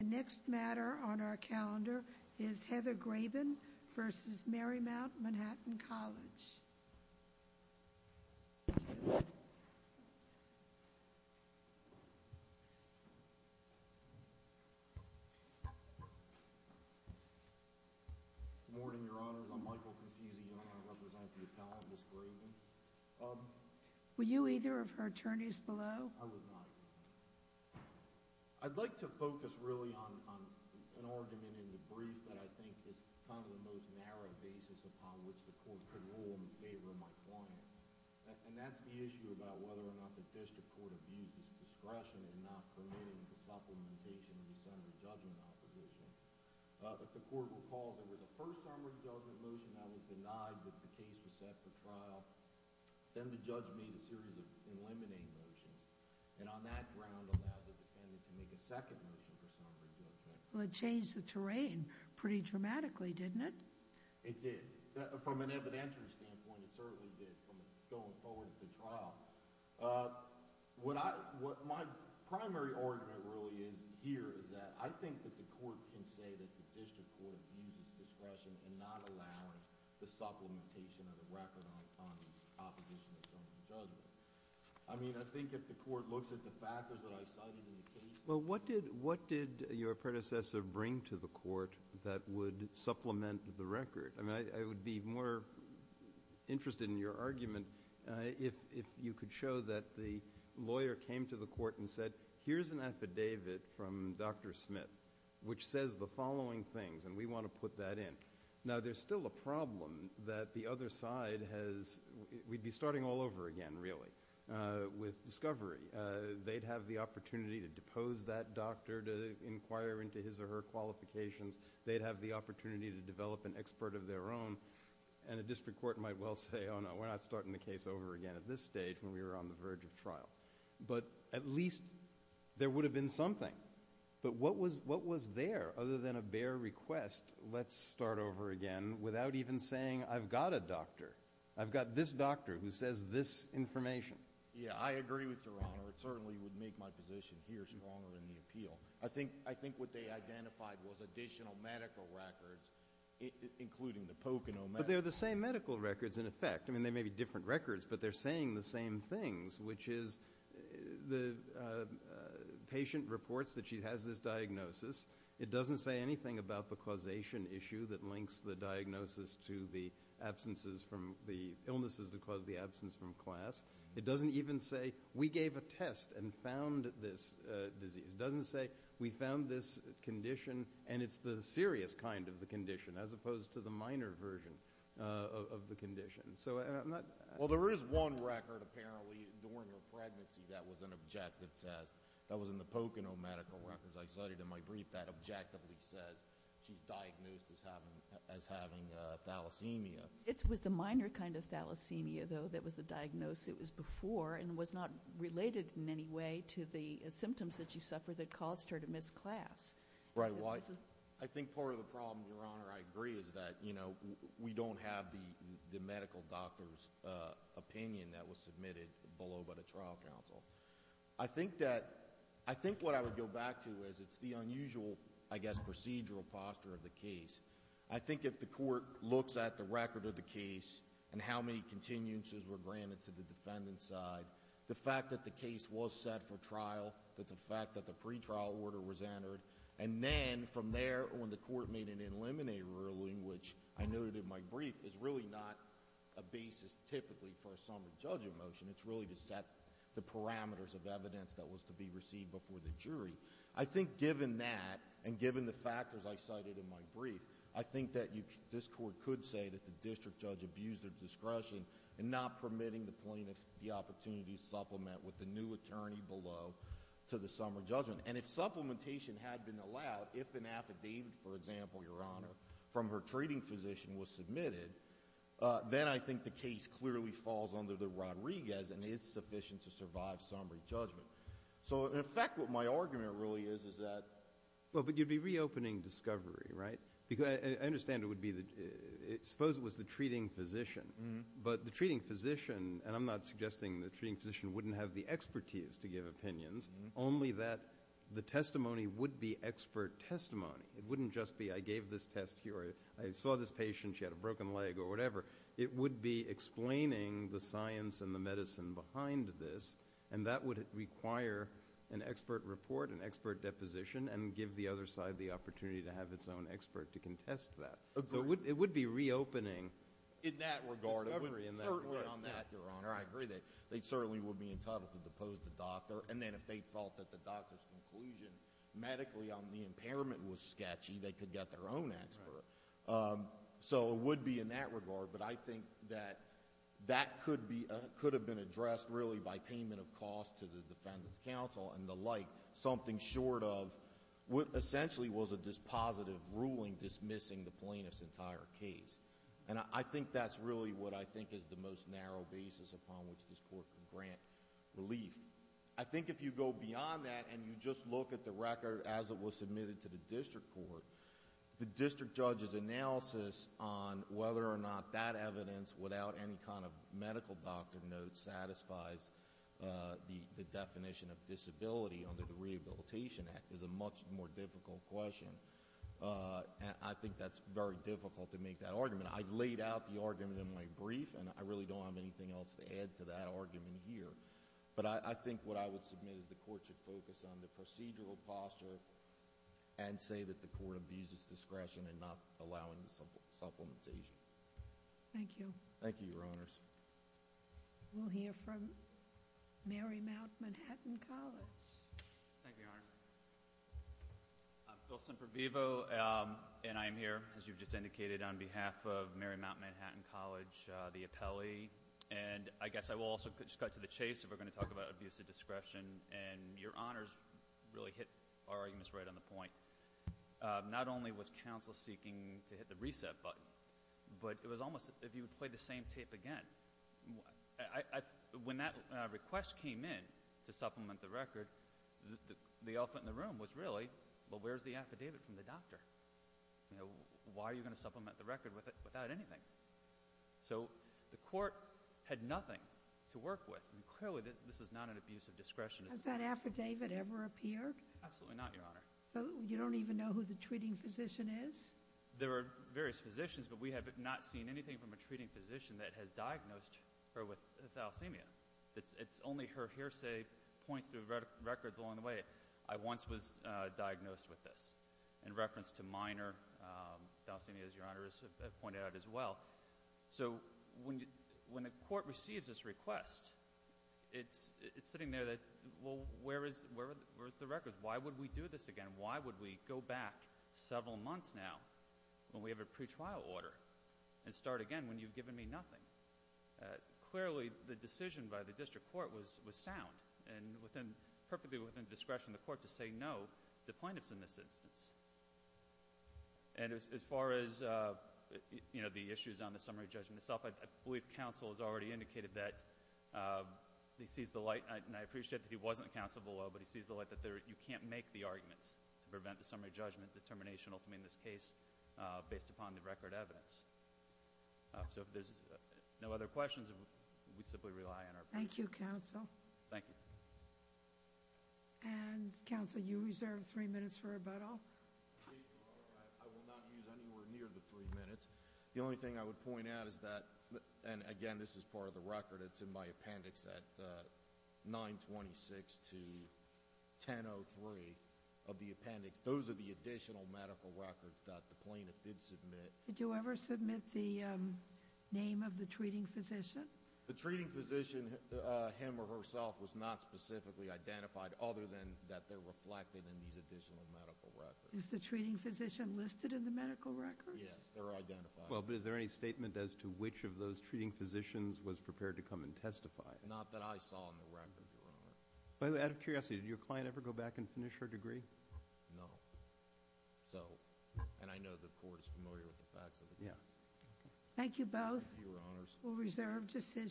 The next matter on our calendar is Heather Graben v. Marymount Manhattan College. Good morning, your honors. I'm Michael Confusio and I represent the appellant, Ms. Graben. Were you either of her attorneys below? I was not. I'd like to focus really on an argument in the brief that I think is kind of the most narrow basis upon which the court could rule in favor of my client. And that's the issue about whether or not the district court abused its discretion in not permitting the supplementation of the summary judgment opposition. If the court recalls, there was a first summary judgment motion that was denied when the case was set for trial. Then the judge made a series of eliminating motions, and on that ground allowed the defendant to make a second motion for summary judgment. Well, it changed the terrain pretty dramatically, didn't it? It did. From an evidentiary standpoint, it certainly did from going forward at the trial. What my primary argument really is here is that I think that the court can say that the district court abuses discretion in not allowing the supplementation of the record on the opposition of summary judgment. I mean, I think if the court looks at the factors that I cited in the case. Well, what did your predecessor bring to the court that would supplement the record? I mean, I would be more interested in your argument if you could show that the lawyer came to the court and said, here's an affidavit from Dr. Smith which says the following things, and we want to put that in. Now, there's still a problem that the other side has. We'd be starting all over again, really, with discovery. They'd have the opportunity to depose that doctor to inquire into his or her qualifications. They'd have the opportunity to develop an expert of their own. And a district court might well say, oh, no, we're not starting the case over again at this stage when we were on the verge of trial. But at least there would have been something. But what was there other than a bare request, let's start over again, without even saying, I've got a doctor. I've got this doctor who says this information. Yeah, I agree with Your Honor. It certainly would make my position here stronger in the appeal. I think what they identified was additional medical records, including the Pocono medical records. But they're the same medical records, in effect. I mean, they may be different records, but they're saying the same things, which is the patient reports that she has this diagnosis. It doesn't say anything about the causation issue that links the diagnosis to the illnesses that cause the absence from class. It doesn't even say, we gave a test and found this disease. It doesn't say, we found this condition, and it's the serious kind of the condition, as opposed to the minor version of the condition. Well, there is one record, apparently, during her pregnancy that was an objective test. That was in the Pocono medical records. I cited in my brief that objectively says she's diagnosed as having thalassemia. It was the minor kind of thalassemia, though, that was the diagnosis. It was before and was not related in any way to the symptoms that she suffered that caused her to miss class. Right. I think part of the problem, Your Honor, I agree, is that we don't have the medical doctor's opinion that was submitted below by the trial counsel. I think what I would go back to is it's the unusual, I guess, procedural posture of the case. I think if the court looks at the record of the case and how many continuances were granted to the defendant's side, the fact that the case was set for trial, that the fact that the pretrial order was entered, and then from there, when the court made an eliminator ruling, which I noted in my brief, is really not a basis, typically, for a summary judge of motion. It's really to set the parameters of evidence that was to be received before the jury. I think given that and given the factors I cited in my brief, I think that this court could say that the district judge abused their discretion in not permitting the plaintiff the opportunity to supplement with the new attorney below to the summary judgment. And if supplementation had been allowed, if an affidavit, for example, Your Honor, from her treating physician was submitted, then I think the case clearly falls under the Rodriguez and is sufficient to survive summary judgment. So, in effect, what my argument really is is that... Well, but you'd be reopening discovery, right? I understand it would be the treating physician, but the treating physician, and I'm not suggesting the treating physician wouldn't have the expertise to give opinions, only that the testimony would be expert testimony. It wouldn't just be, I gave this test to you, or I saw this patient, she had a broken leg, or whatever. It would be explaining the science and the medicine behind this, and that would require an expert report, an expert deposition, and give the other side the opportunity to have its own expert to contest that. Agreed. So it would be reopening discovery in that regard. In that regard, it would certainly on that, Your Honor. I agree. They certainly would be entitled to depose the doctor. And then if they felt that the doctor's conclusion medically on the impairment was sketchy, they could get their own expert. Right. So it would be in that regard, but I think that that could be, could have been addressed really by payment of cost to the defendant's counsel and the like, something short of what essentially was a dispositive ruling dismissing the plaintiff's entire case. And I think that's really what I think is the most narrow basis upon which this court could grant relief. I think if you go beyond that and you just look at the record as it was submitted to the district court, the district judge's analysis on whether or not that evidence, without any kind of medical doctor note, satisfies the definition of disability under the Rehabilitation Act, is a much more difficult question. And I think that's very difficult to make that argument. I've laid out the argument in my brief, and I really don't have anything else to add to that argument here. But I think what I would submit is the court should focus on the procedural posture and say that the court abuses discretion in not allowing the supplementation. Thank you. Thank you, Your Honors. We'll hear from Marymount Manhattan College. Thank you, Your Honor. I'm Phil Simpervivo, and I am here, as you've just indicated, on behalf of Marymount Manhattan College, the appellee. And I guess I will also cut to the chase if we're going to talk about abuse of discretion. And Your Honors really hit our arguments right on the point. Not only was counsel seeking to hit the reset button, but it was almost as if you would play the same tape again. When that request came in to supplement the record, the elephant in the room was really, well, where's the affidavit from the doctor? Why are you going to supplement the record with it without anything? So the court had nothing to work with, and clearly this is not an abuse of discretion. Has that affidavit ever appeared? Absolutely not, Your Honor. So you don't even know who the treating physician is? There are various physicians, but we have not seen anything from a treating physician that has diagnosed her with thalassemia. It's only her hearsay points to records along the way. I once was diagnosed with this in reference to minor thalassemia, as Your Honor has pointed out as well. So when the court receives this request, it's sitting there that, well, where is the record? Why would we do this again? Why would we go back several months now when we have a pretrial order and start again when you've given me nothing? Clearly, the decision by the district court was sound and perfectly within discretion of the court to say no to plaintiffs in this instance. As far as the issues on the summary judgment itself, I believe counsel has already indicated that he sees the light, and I appreciate that he wasn't counsel below, but he sees the light that you can't make the arguments to prevent the summary judgment determination ultimately in this case based upon the record evidence. So if there's no other questions, we simply rely on our presentation. Thank you, counsel. Thank you. And, counsel, you reserve three minutes for rebuttal. I will not use anywhere near the three minutes. The only thing I would point out is that, and again, this is part of the record. It's in my appendix at 926 to 1003 of the appendix. Those are the additional medical records that the plaintiff did submit. Did you ever submit the name of the treating physician? The treating physician, him or herself, was not specifically identified, other than that they're reflected in these additional medical records. Is the treating physician listed in the medical records? Yes, they're identified. Well, but is there any statement as to which of those treating physicians was prepared to come and testify? Not that I saw in the record, Your Honor. By the way, out of curiosity, did your client ever go back and finish her degree? No. So, and I know the court is familiar with the facts of the case. Yeah. Thank you both. Thank you, Your Honors. We'll reserve decision.